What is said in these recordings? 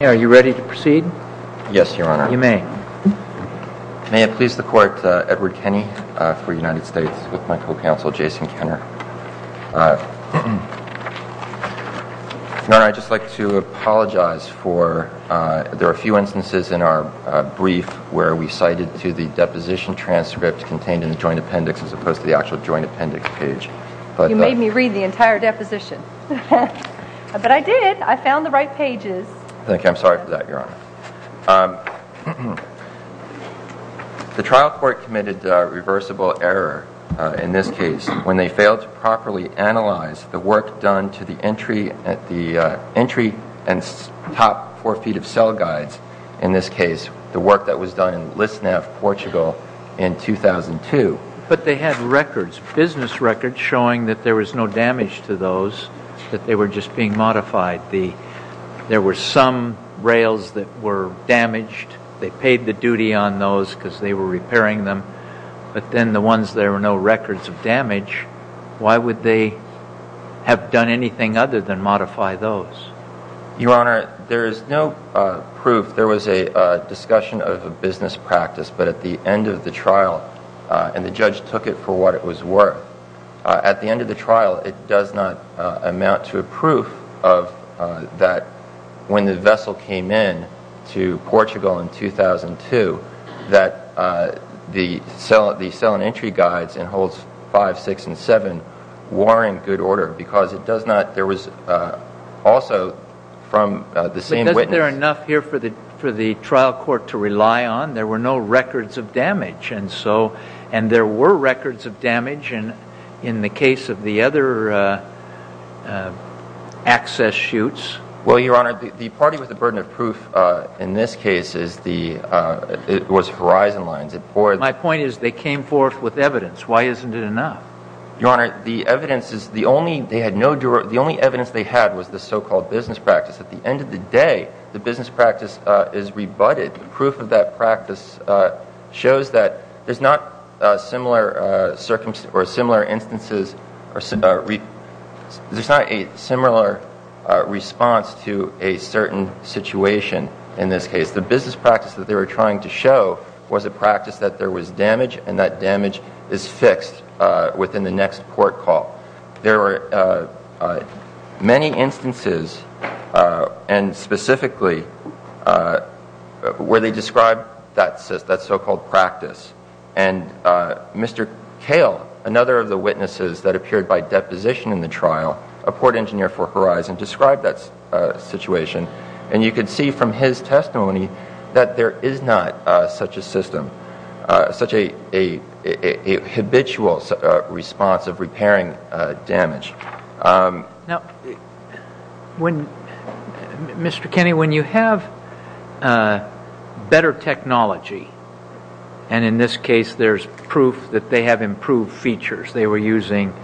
Are you ready to proceed? Yes, Your Honor. You may. May it please the Court, Edward Kenney for United States with my co-counsel Jason Kenner. Your Honor, I'd just like to apologize for, there are a few instances in our brief where we cited to the deposition transcript contained in the joint appendix as opposed to the actual joint appendix page. You made me read the entire deposition. But I did. I found the right pages. Thank you. I'm sorry for that, Your Honor. The trial court committed a reversible error in this case when they failed to properly analyze the work done to the entry and top four feet of cell guides, in this case, the work that was done in Lisnev, Portugal in 2002. But they had records, business records, showing that there was no damage to those, that they were just being modified. There were some rails that were damaged. They paid the duty on those because they were repairing them. But then the ones there were no records of damage, why would they have done anything other than modify those? Your Honor, there is no proof. There was a discussion of a business practice. But at the end of the trial, and the judge took it for what it was worth, at the end of the trial, it does not amount to a proof of that when the vessel came in to Portugal in 2002, that the cell and entry guides in holes five, six, and seven were in good order. Because it does not, there was also from the same witness. But isn't there enough here for the trial court to rely on? There were no records of damage. And there were records of damage in the case of the other access chutes. Well, Your Honor, the party with the burden of proof in this case was Verizon Lines. My point is they came forth with evidence. Why isn't it enough? Your Honor, the evidence is the only, they had no, the only evidence they had was the so-called business practice. At the end of the day, the business practice is rebutted. The proof of that practice shows that there's not similar circumstances or similar instances, there's not a similar response to a certain situation in this case. The business practice that they were trying to show was a practice that there was damage and that damage is fixed within the next court call. There were many instances, and specifically, where they described that so-called practice. And Mr. Cale, another of the witnesses that appeared by deposition in the trial, a port engineer for Verizon, described that situation. And you can see from his testimony that there is not such a system, such a habitual response of repairing damage. Now, Mr. Kenney, when you have better technology, and in this case, there's proof that they have improved features. They were using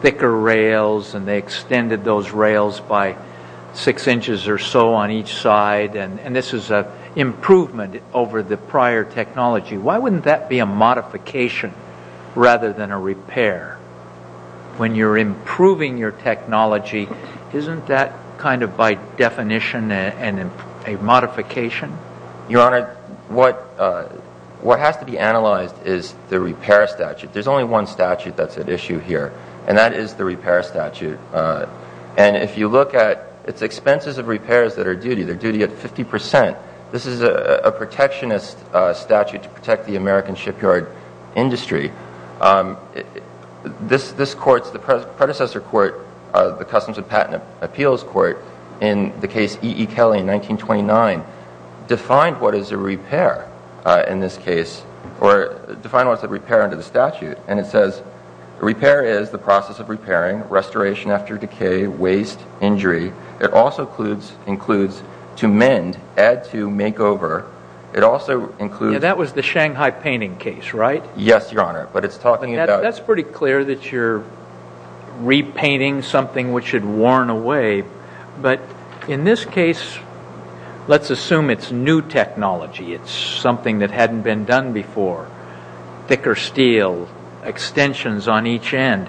thicker rails and they extended those rails by six inches or so on each side, and this is an improvement over the prior technology. Why wouldn't that be a modification rather than a repair? When you're improving your technology, isn't that kind of by definition a modification? Your Honor, what has to be analyzed is the repair statute. There's only one statute that's at issue here, and that is the repair statute. And if you look at its expenses of repairs that are duty, they're duty at 50%. This is a protectionist statute to protect the American shipyard industry. This court, the predecessor court, the Customs and Patent Appeals Court, in the case E.E. Kelly in 1929, defined what is a repair in this case, or defined what is a repair under the statute. And it says, repair is the process of repairing, restoration after decay, waste, injury. It also includes to mend, add to, make over. It also includes... That was the Shanghai painting case, right? Yes, Your Honor, but it's talking about... That's pretty clear that you're repainting something which had worn away, but in this case, let's assume it's new technology. It's something that hadn't been done before. Thicker steel, extensions on each end.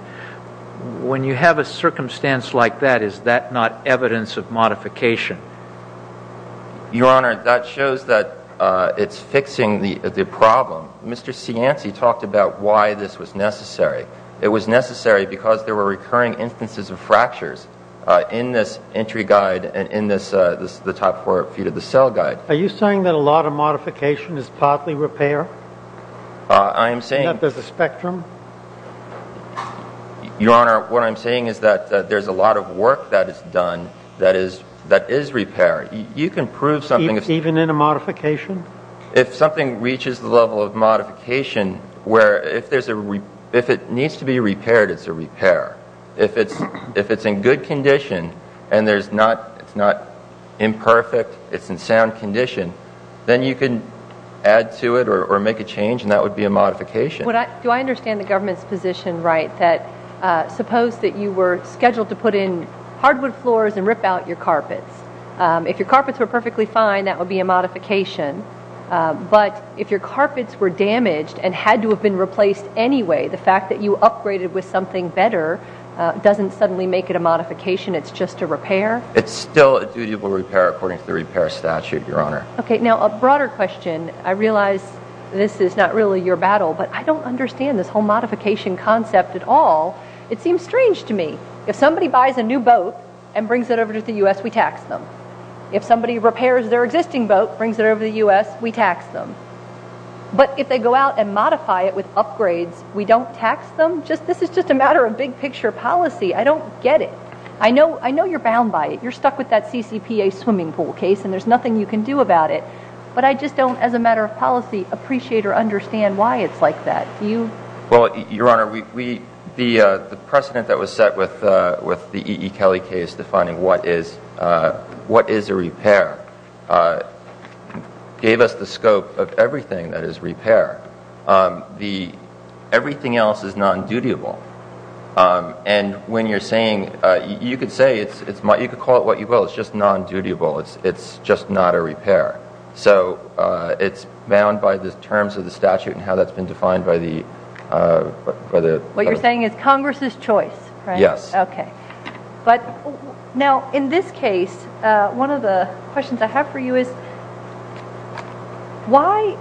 When you have a circumstance like that, is that not evidence of modification? Your Honor, that shows that it's fixing the problem. Mr. Cianci talked about why this was necessary. It was necessary because there were recurring instances of fractures in this entry guide and in the top four feet of the cell guide. Are you saying that a lot of modification is partly repair? I am saying... And that there's a spectrum? Your Honor, what I'm saying is that there's a lot of work that is done that is repair. You can prove something... Even in a modification? If something reaches the level of modification, where if it needs to be repaired, it's a repair. If it's in good condition and it's not imperfect, it's in sound condition, then you can add to it or make a change and that would be a modification. Do I understand the government's position right that suppose that you were scheduled to put in hardwood floors and rip out your carpets? If your carpets were perfectly fine, that would be a modification. But if your carpets were damaged and had to have been replaced anyway, the fact that you upgraded with something better doesn't suddenly make it a modification. It's just a repair? It's still a dutiful repair according to the repair statute, Your Honor. Okay, now a broader question. I realize this is not really your battle, but I don't understand this whole modification concept at all. It seems strange to me. If somebody buys a new boat and brings it over to the U.S., we tax them. If somebody repairs their existing boat, brings it over to the U.S., we tax them. But if they go out and modify it with upgrades, we don't tax them? This is just a matter of big picture policy. I don't get it. I know you're bound by it. You're stuck with that CCPA swimming pool case and there's nothing you can do about it. But I just don't, as a matter of policy, appreciate or understand why it's like that. Well, Your Honor, the precedent that was set with the E.E. Kelly case defining what is a repair gave us the scope of everything that is repair. Everything else is non-dutiful. And when you're saying, you could call it what you will, it's just non-dutiful. It's just not a repair. So it's bound by the terms of the statute and how that's been defined by the... What you're saying is Congress's choice, right? Yes. Okay. Now, in this case, one of the questions I have for you is, why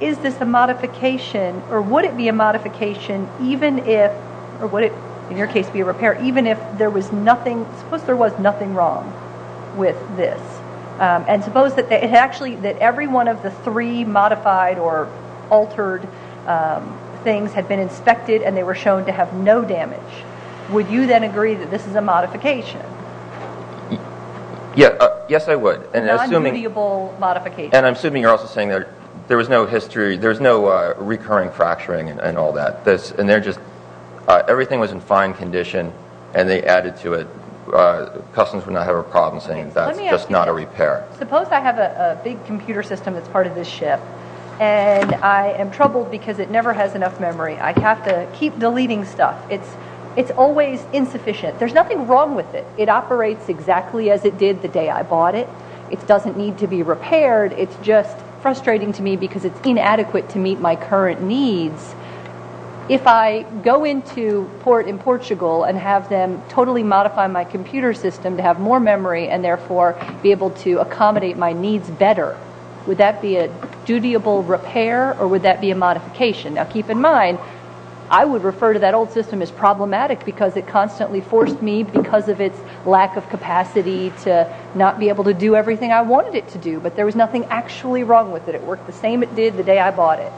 is this a modification or would it be a modification even if, or would it, in your case, be a repair, even if there was nothing wrong with this? And suppose that every one of the three modified or altered things had been inspected and they were shown to have no damage. Would you then agree that this is a modification? Yes, I would. A non-dutiful modification. And I'm assuming you're also saying there was no history, there was no recurring fracturing and all that. Everything was in fine condition and they added to it. Customers would not have a problem saying that's just not a repair. Suppose I have a big computer system that's part of this ship and I am troubled because it never has enough memory. I have to keep deleting stuff. It's always insufficient. There's nothing wrong with it. It operates exactly as it did the day I bought it. It doesn't need to be repaired. It's just frustrating to me because it's inadequate to meet my current needs. If I go into port in Portugal and have them totally modify my computer system to have more memory and therefore be able to accommodate my needs better, would that be a dutiable repair or would that be a modification? Now, keep in mind, I would refer to that old system as problematic because it constantly forced me because of its lack of capacity to not be able to do everything I wanted it to do. But there was nothing actually wrong with it. It worked the same it did the day I bought it.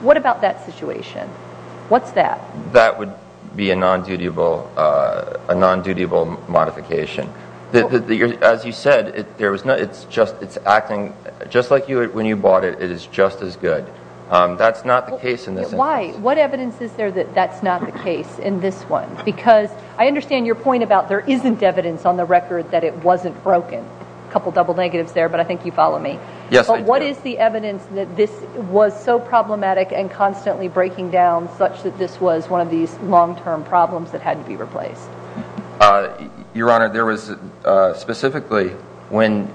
What about that situation? What's that? That would be a non-dutiable modification. As you said, it's acting just like when you bought it. It is just as good. That's not the case in this instance. Why? What evidence is there that that's not the case in this one? Because I understand your point about there isn't evidence on the record that it wasn't broken. A couple of double negatives there, but I think you follow me. Yes, I do. But what is the evidence that this was so problematic and constantly breaking down such that this was one of these long-term problems that had to be replaced? Your Honor, there was specifically when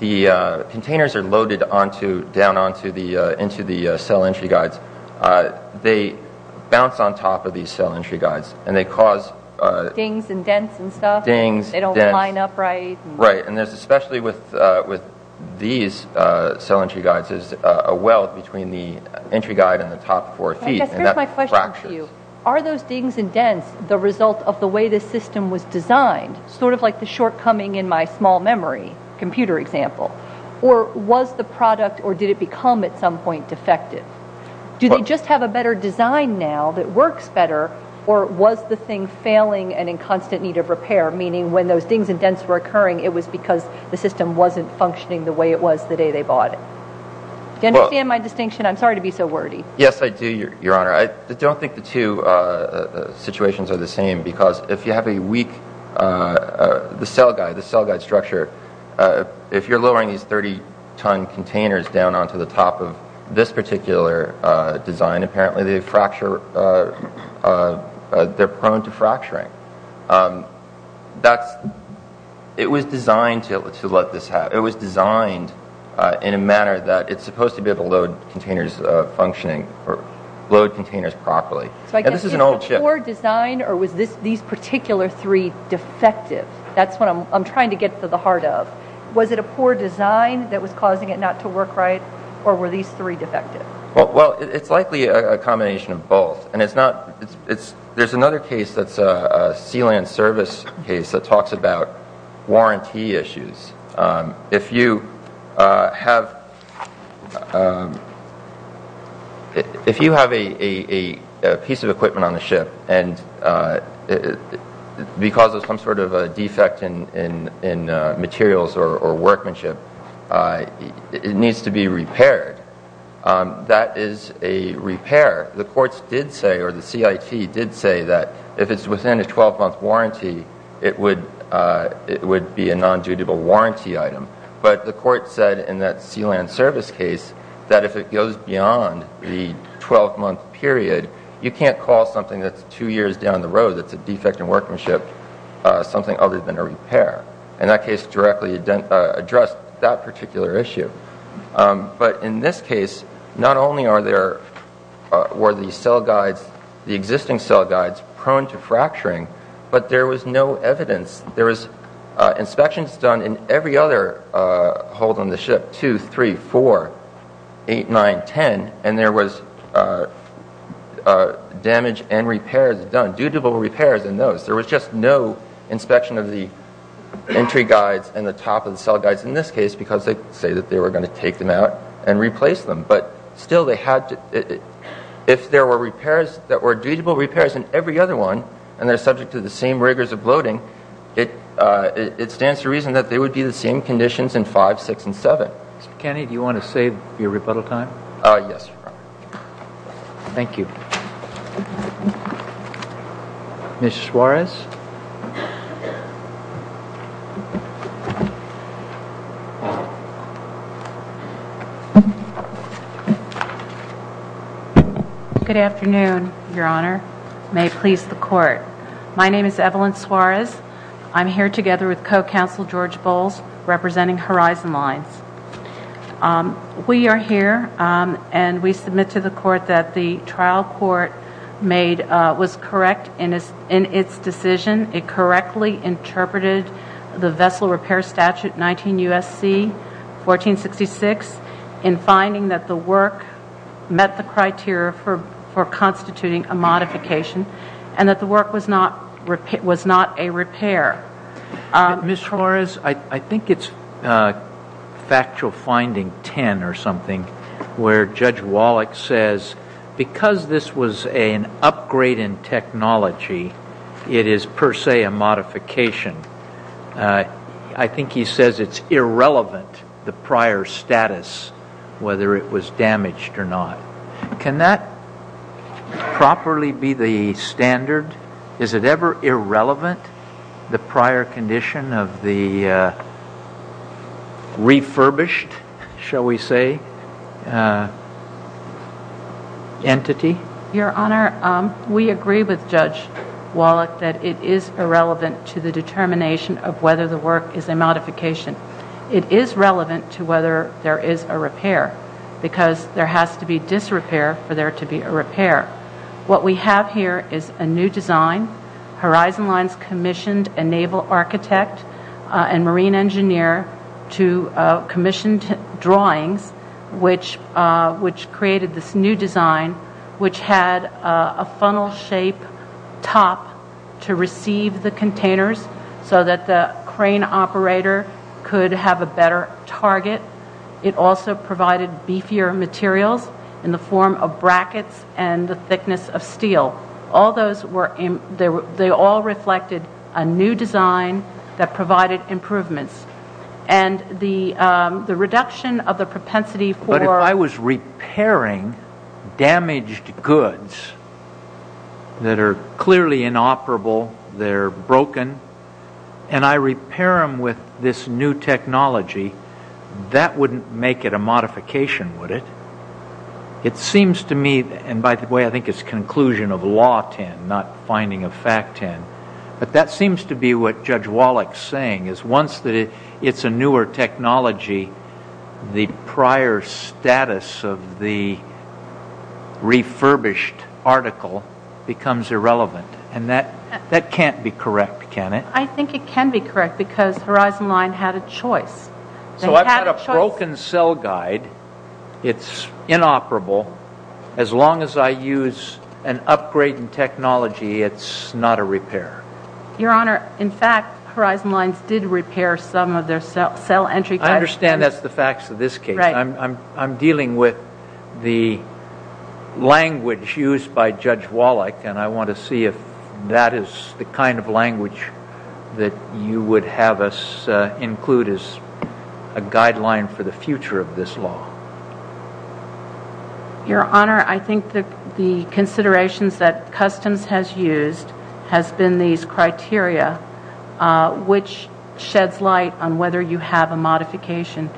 the containers are loaded down into the cell entry guides, they bounce on top of these cell entry guides and they cause… Dings and dents and stuff? Dings, dents. They don't line up right? Right. And especially with these cell entry guides, there's a well between the entry guide and the top four feet, and that fractures. I guess here's my question for you. Are those dings and dents the result of the way this system was designed, sort of like the shortcoming in my small memory computer example? Or was the product, or did it become at some point defective? Do they just have a better design now that works better, or was the thing failing and in constant need of repair, meaning when those dings and dents were occurring, it was because the system wasn't functioning the way it was the day they bought it? Do you understand my distinction? I'm sorry to be so wordy. Yes, I do, Your Honor. I don't think the two situations are the same, because if you have a weak… The cell guide, the cell guide structure, if you're lowering these 30-ton containers down onto the top of this particular design, apparently they fracture, they're prone to fracturing. That's, it was designed to let this happen. It was designed in a manner that it's supposed to be able to load containers functioning, or load containers properly. And this is an old chip. So I guess, is it a poor design, or was these particular three defective? That's what I'm trying to get to the heart of. Was it a poor design that was causing it not to work right, or were these three defective? Well, it's likely a combination of both. And it's not, it's, there's another case that's a sealant service case that talks about warranty issues. If you have, if you have a piece of equipment on the ship, and because of some sort of a defect in materials or workmanship, it needs to be repaired. That is a repair. The courts did say, or the CIT did say that if it's within a 12-month warranty, it would be a non-dutiful warranty item. But the court said in that sealant service case that if it goes beyond the 12-month period, you can't call something that's two years down the road that's a defect in workmanship something other than a repair. And that case directly addressed that particular issue. But in this case, not only are there, were the cell guides, the existing cell guides prone to fracturing, but there was no evidence. There was inspections done in every other hold on the ship, 2, 3, 4, 8, 9, 10, and there was damage and repairs done, dutable repairs in those. There was just no inspection of the entry guides and the top of the cell guides in this case because they say that they were going to take them out and replace them. But still they had to, if there were repairs that were dutable repairs in every other one, and they're subject to the same rigors of bloating, it stands to reason that they would be the same conditions in 5, 6, and 7. Mr. McKinney, do you want to save your rebuttal time? Yes, Your Honor. Thank you. Ms. Suarez. Good afternoon, Your Honor. May it please the Court. My name is Evelyn Suarez. I'm here together with co-counsel George Bowles, representing Horizon Lines. We are here and we submit to the Court that the trial court was correct in its decision. It correctly interpreted the vessel repair statute 19 U.S.C. 1466 in finding that the work met the criteria for constituting a modification and that the work was not a repair. Ms. Suarez, I think it's factual finding 10 or something where Judge Wallach says because this was an upgrade in technology, it is per se a modification. I think he says it's irrelevant, the prior status, whether it was damaged or not. Can that properly be the standard? Is it ever irrelevant? The prior condition of the refurbished, shall we say, entity? Your Honor, we agree with Judge Wallach that it is irrelevant to the determination of whether the work is a modification. It is relevant to whether there is a repair because there has to be disrepair for there to be a repair. What we have here is a new design. Horizon Lines commissioned a naval architect and marine engineer to commission drawings which created this new design which had a funnel-shaped top to receive the containers so that the crane operator could have a better target. It also provided beefier materials in the form of brackets and the thickness of steel. They all reflected a new design that provided improvements. And the reduction of the propensity for... But if I was repairing damaged goods that are clearly inoperable, they're broken, and I repair them with this new technology, that wouldn't make it a modification, would it? It seems to me, and by the way, I think it's conclusion of Law 10, not finding of Fact 10, but that seems to be what Judge Wallach is saying, is once it's a newer technology, the prior status of the refurbished article becomes irrelevant. And that can't be correct, can it? I think it can be correct because Horizon Lines had a choice. So I've got a broken cell guide. It's inoperable. As long as I use an upgrade in technology, it's not a repair. Your Honor, in fact, Horizon Lines did repair some of their cell entry... I understand that's the facts of this case. I'm dealing with the language used by Judge Wallach, and I want to see if that is the kind of language that you would have us include as a guideline for the future of this law. Your Honor, I think the considerations that Customs has used has been these criteria, which sheds light on whether you have a modification.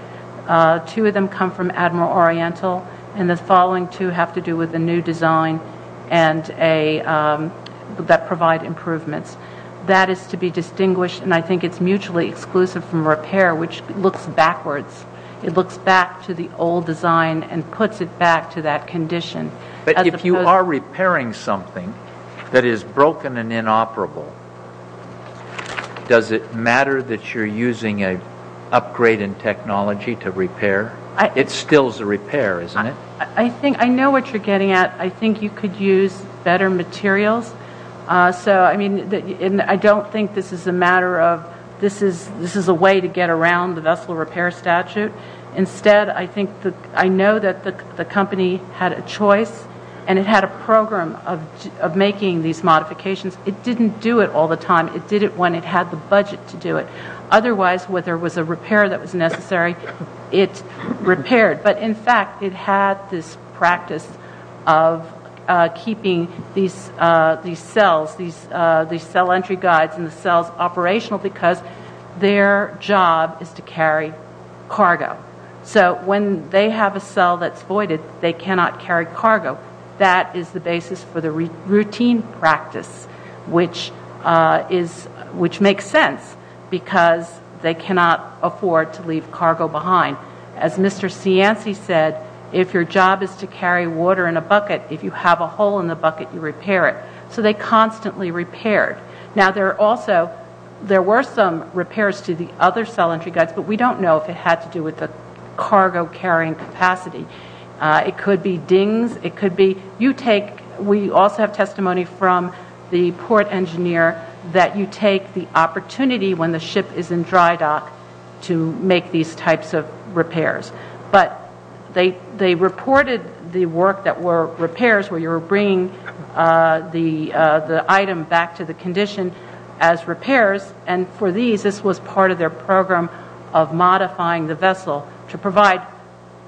Two of them come from Admiral Oriental, and the following two have to do with a new design that provide improvements. That is to be distinguished, and I think it's mutually exclusive from repair, which looks backwards. It looks back to the old design and puts it back to that condition. But if you are repairing something that is broken and inoperable, does it matter that you're using an upgrade in technology to repair? It still is a repair, isn't it? I know what you're getting at. I think you could use better materials. I don't think this is a matter of this is a way to get around the vessel repair statute. Instead, I know that the company had a choice, and it had a program of making these modifications. It didn't do it all the time. It did it when it had the budget to do it. Otherwise, whether it was a repair that was necessary, it repaired. But in fact, it had this practice of keeping these cells, these cell entry guides and the cells operational because their job is to carry cargo. So when they have a cell that's voided, they cannot carry cargo. That is the basis for the routine practice, which makes sense because they cannot afford to leave cargo behind. As Mr. Cianci said, if your job is to carry water in a bucket, if you have a hole in the bucket, you repair it. So they constantly repaired. Now, there were some repairs to the other cell entry guides, but we don't know if it had to do with the cargo carrying capacity. It could be dings. We also have testimony from the port engineer that you take the opportunity when the ship is in dry dock to make these types of repairs. But they reported the work that were repairs, where you were bringing the item back to the condition as repairs. For these, this was part of their program of modifying the vessel to provide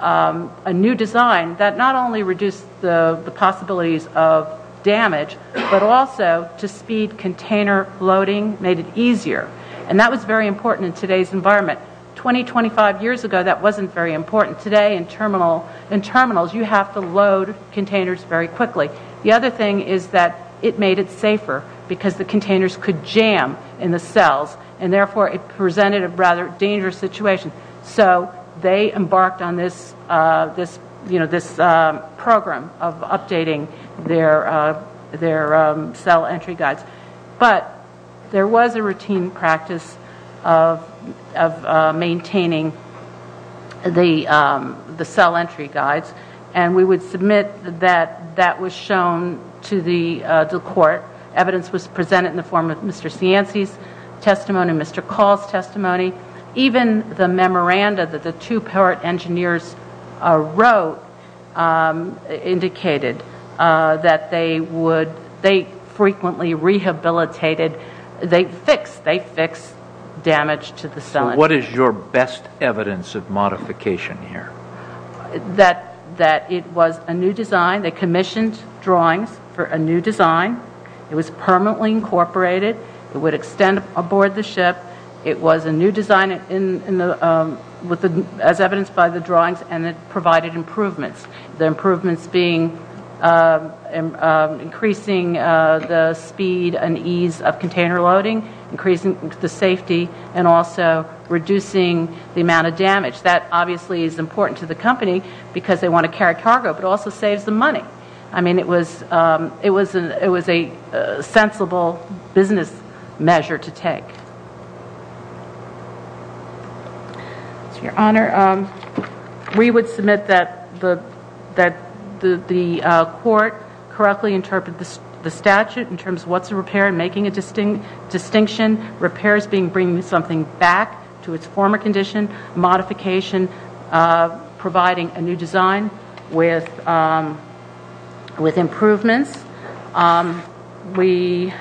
a new design that not only reduced the possibilities of damage, but also to speed container loading, made it easier. And that was very important in today's environment. 20, 25 years ago, that wasn't very important. Today in terminals, you have to load containers very quickly. The other thing is that it made it safer because the containers could jam in the cells and therefore it presented a rather dangerous situation. So they embarked on this program of updating their cell entry guides. But there was a routine practice of maintaining the cell entry guides, and we would submit that that was shown to the court. Evidence was presented in the form of Mr. Cianci's testimony, Mr. Call's testimony. Even the memoranda that the two pirate engineers wrote indicated that they frequently rehabilitated. They fixed damage to the cell entry. So what is your best evidence of modification here? That it was a new design. They commissioned drawings for a new design. It was permanently incorporated. It would extend aboard the ship. It was a new design as evidenced by the drawings, and it provided improvements. The improvements being increasing the speed and ease of container loading, increasing the safety, and also reducing the amount of damage. That obviously is important to the company because they want to carry cargo, but it also saves them money. I mean, it was a sensible business measure to take. Your Honor, we would submit that the court correctly interpreted the statute in terms of what's a repair and making a distinction. Repair is bringing something back to its former condition. Modification, providing a new design with improvements. Take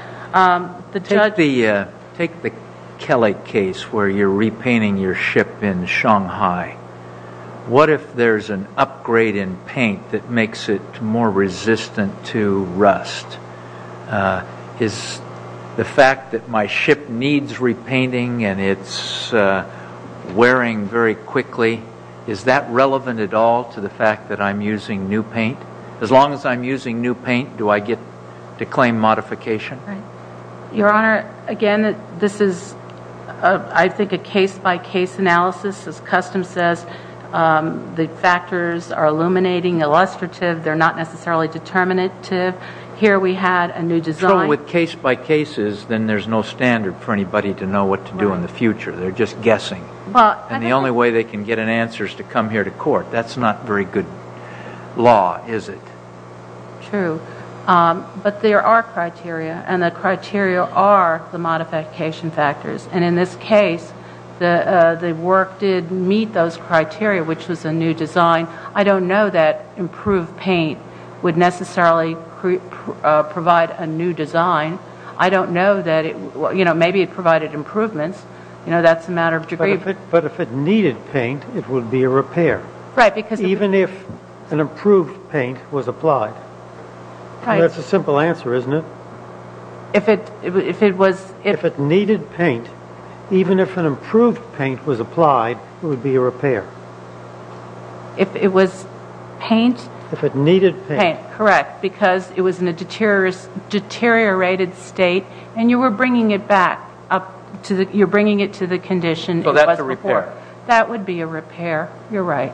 the Kelly case where you're repainting your ship in Shanghai. What if there's an upgrade in paint that makes it more resistant to rust? Is the fact that my ship needs repainting and it's wearing very quickly, is that relevant at all to the fact that I'm using new paint? As long as I'm using new paint, do I get to claim modification? Your Honor, again, this is, I think, a case-by-case analysis. As Customs says, the factors are illuminating, illustrative. They're not necessarily determinative. Here we had a new design. So with case-by-cases, then there's no standard for anybody to know what to do in the future. They're just guessing. And the only way they can get an answer is to come here to court. That's not very good law, is it? True. But there are criteria, and the criteria are the modification factors. And in this case, the work did meet those criteria, which was a new design. I don't know that improved paint would necessarily provide a new design. I don't know that it would. Maybe it provided improvements. That's a matter of degree. But if it needed paint, it would be a repair. Right. Even if an improved paint was applied. Right. That's a simple answer, isn't it? If it needed paint, even if an improved paint was applied, it would be a repair. If it was paint? If it needed paint. Correct. Because it was in a deteriorated state, and you were bringing it back. You're bringing it to the condition it was before. So that's a repair. That would be a repair. You're right.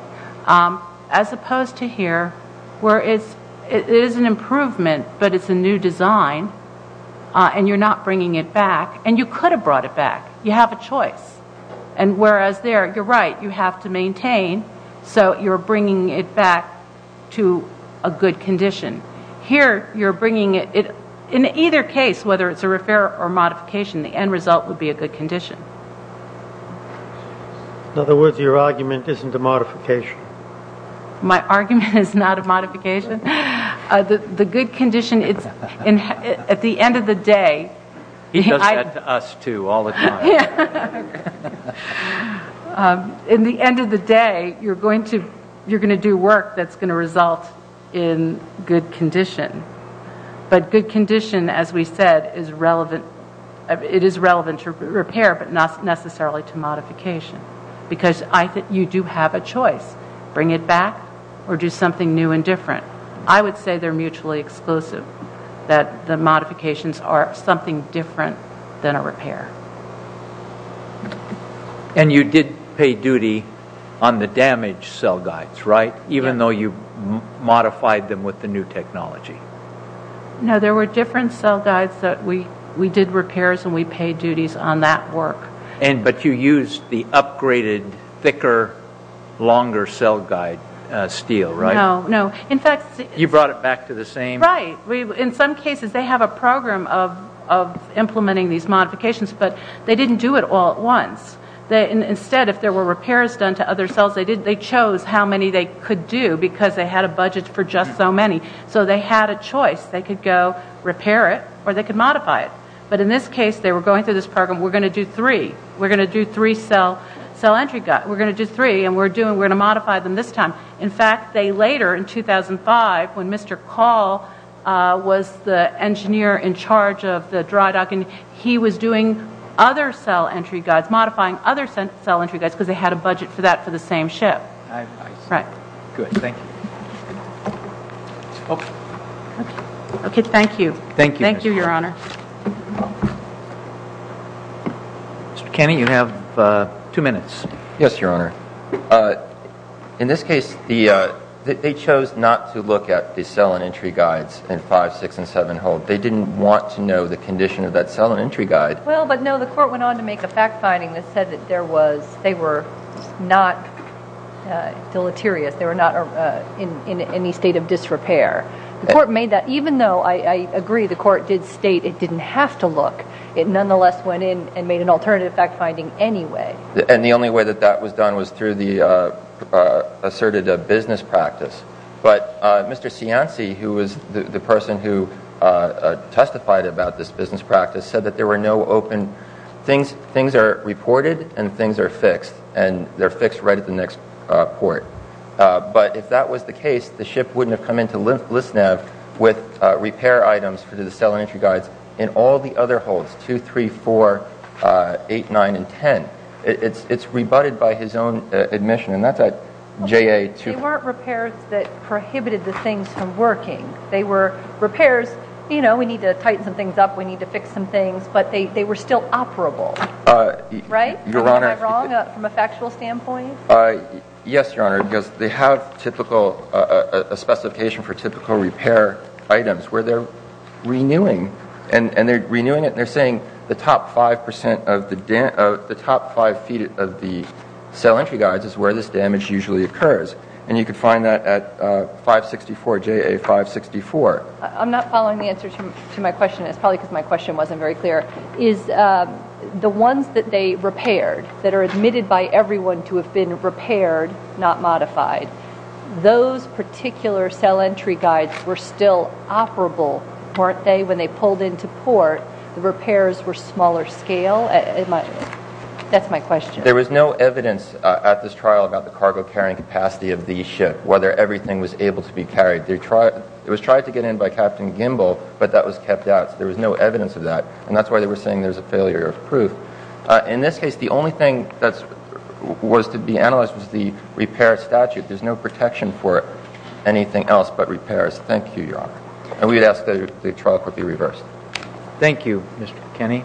As opposed to here, where it is an improvement, but it's a new design, and you're not bringing it back. And you could have brought it back. You have a choice. Whereas there, you're right. You have to maintain. So you're bringing it back to a good condition. Here, you're bringing it. In either case, whether it's a repair or modification, the end result would be a good condition. In other words, your argument isn't a modification. My argument is not a modification. The good condition, at the end of the day. He does that to us, too, all the time. In the end of the day, you're going to do work that's going to result in good condition. But good condition, as we said, it is relevant to repair, but not necessarily to modification. Because you do have a choice. Bring it back, or do something new and different. I would say they're mutually exclusive. That the modifications are something different than a repair. And you did pay duty on the damaged cell guides, right? Even though you modified them with the new technology. No, there were different cell guides that we did repairs, and we paid duties on that work. But you used the upgraded, thicker, longer cell guide steel, right? No. You brought it back to the same? Right. In some cases, they have a program of implementing these modifications, but they didn't do it all at once. Instead, if there were repairs done to other cells, they chose how many they could do, because they had a budget for just so many. So they had a choice. They could go repair it, or they could modify it. But in this case, they were going through this program. We're going to do three. We're going to do three cell entry guides. We're going to do three, and we're going to modify them this time. In fact, they later, in 2005, when Mr. Call was the engineer in charge of the dry docking, he was doing other cell entry guides, modifying other cell entry guides, because they had a budget for that for the same ship. Right. Good. Thank you. Okay. Thank you. Thank you. Thank you, Your Honor. Mr. Kenney, you have two minutes. Yes, Your Honor. In this case, they chose not to look at the cell and entry guides in 5, 6, and 7 hull. They didn't want to know the condition of that cell and entry guide. Well, but no, the court went on to make a fact-finding that said that they were not deleterious. They were not in any state of disrepair. The court made that. Even though I agree the court did state it didn't have to look, it nonetheless went in and made an alternative fact-finding anyway. And the only way that that was done was through the asserted business practice. But Mr. Cianci, who was the person who testified about this business practice, said that there were no open things. Things are reported and things are fixed, and they're fixed right at the next port. But if that was the case, the ship wouldn't have come into Lisnev with repair items for the cell and entry guides in all the other hulls, 2, 3, 4, 8, 9, and 10. It's rebutted by his own admission, and that's at JA 2. They weren't repairs that prohibited the things from working. They were repairs, you know, we need to tighten some things up, we need to fix some things, but they were still operable, right? Am I wrong from a factual standpoint? Yes, Your Honor, because they have a specification for typical repair items where they're renewing. And they're renewing it and they're saying the top five feet of the cell entry guides is where this damage usually occurs. And you can find that at 564, JA 564. I'm not following the answer to my question. It's probably because my question wasn't very clear. Is the ones that they repaired that are admitted by everyone to have been repaired, not modified, those particular cell entry guides were still operable, weren't they, when they pulled into port? The repairs were smaller scale? That's my question. There was no evidence at this trial about the cargo carrying capacity of the ship, whether everything was able to be carried. It was tried to get in by Captain Gimbel, but that was kept out, so there was no evidence of that. And that's why they were saying there's a failure of proof. In this case, the only thing that was to be analyzed was the repair statute. There's no protection for anything else but repairs. Thank you, Your Honor. And we would ask that the trial court be reversed. Thank you, Mr. Kenney.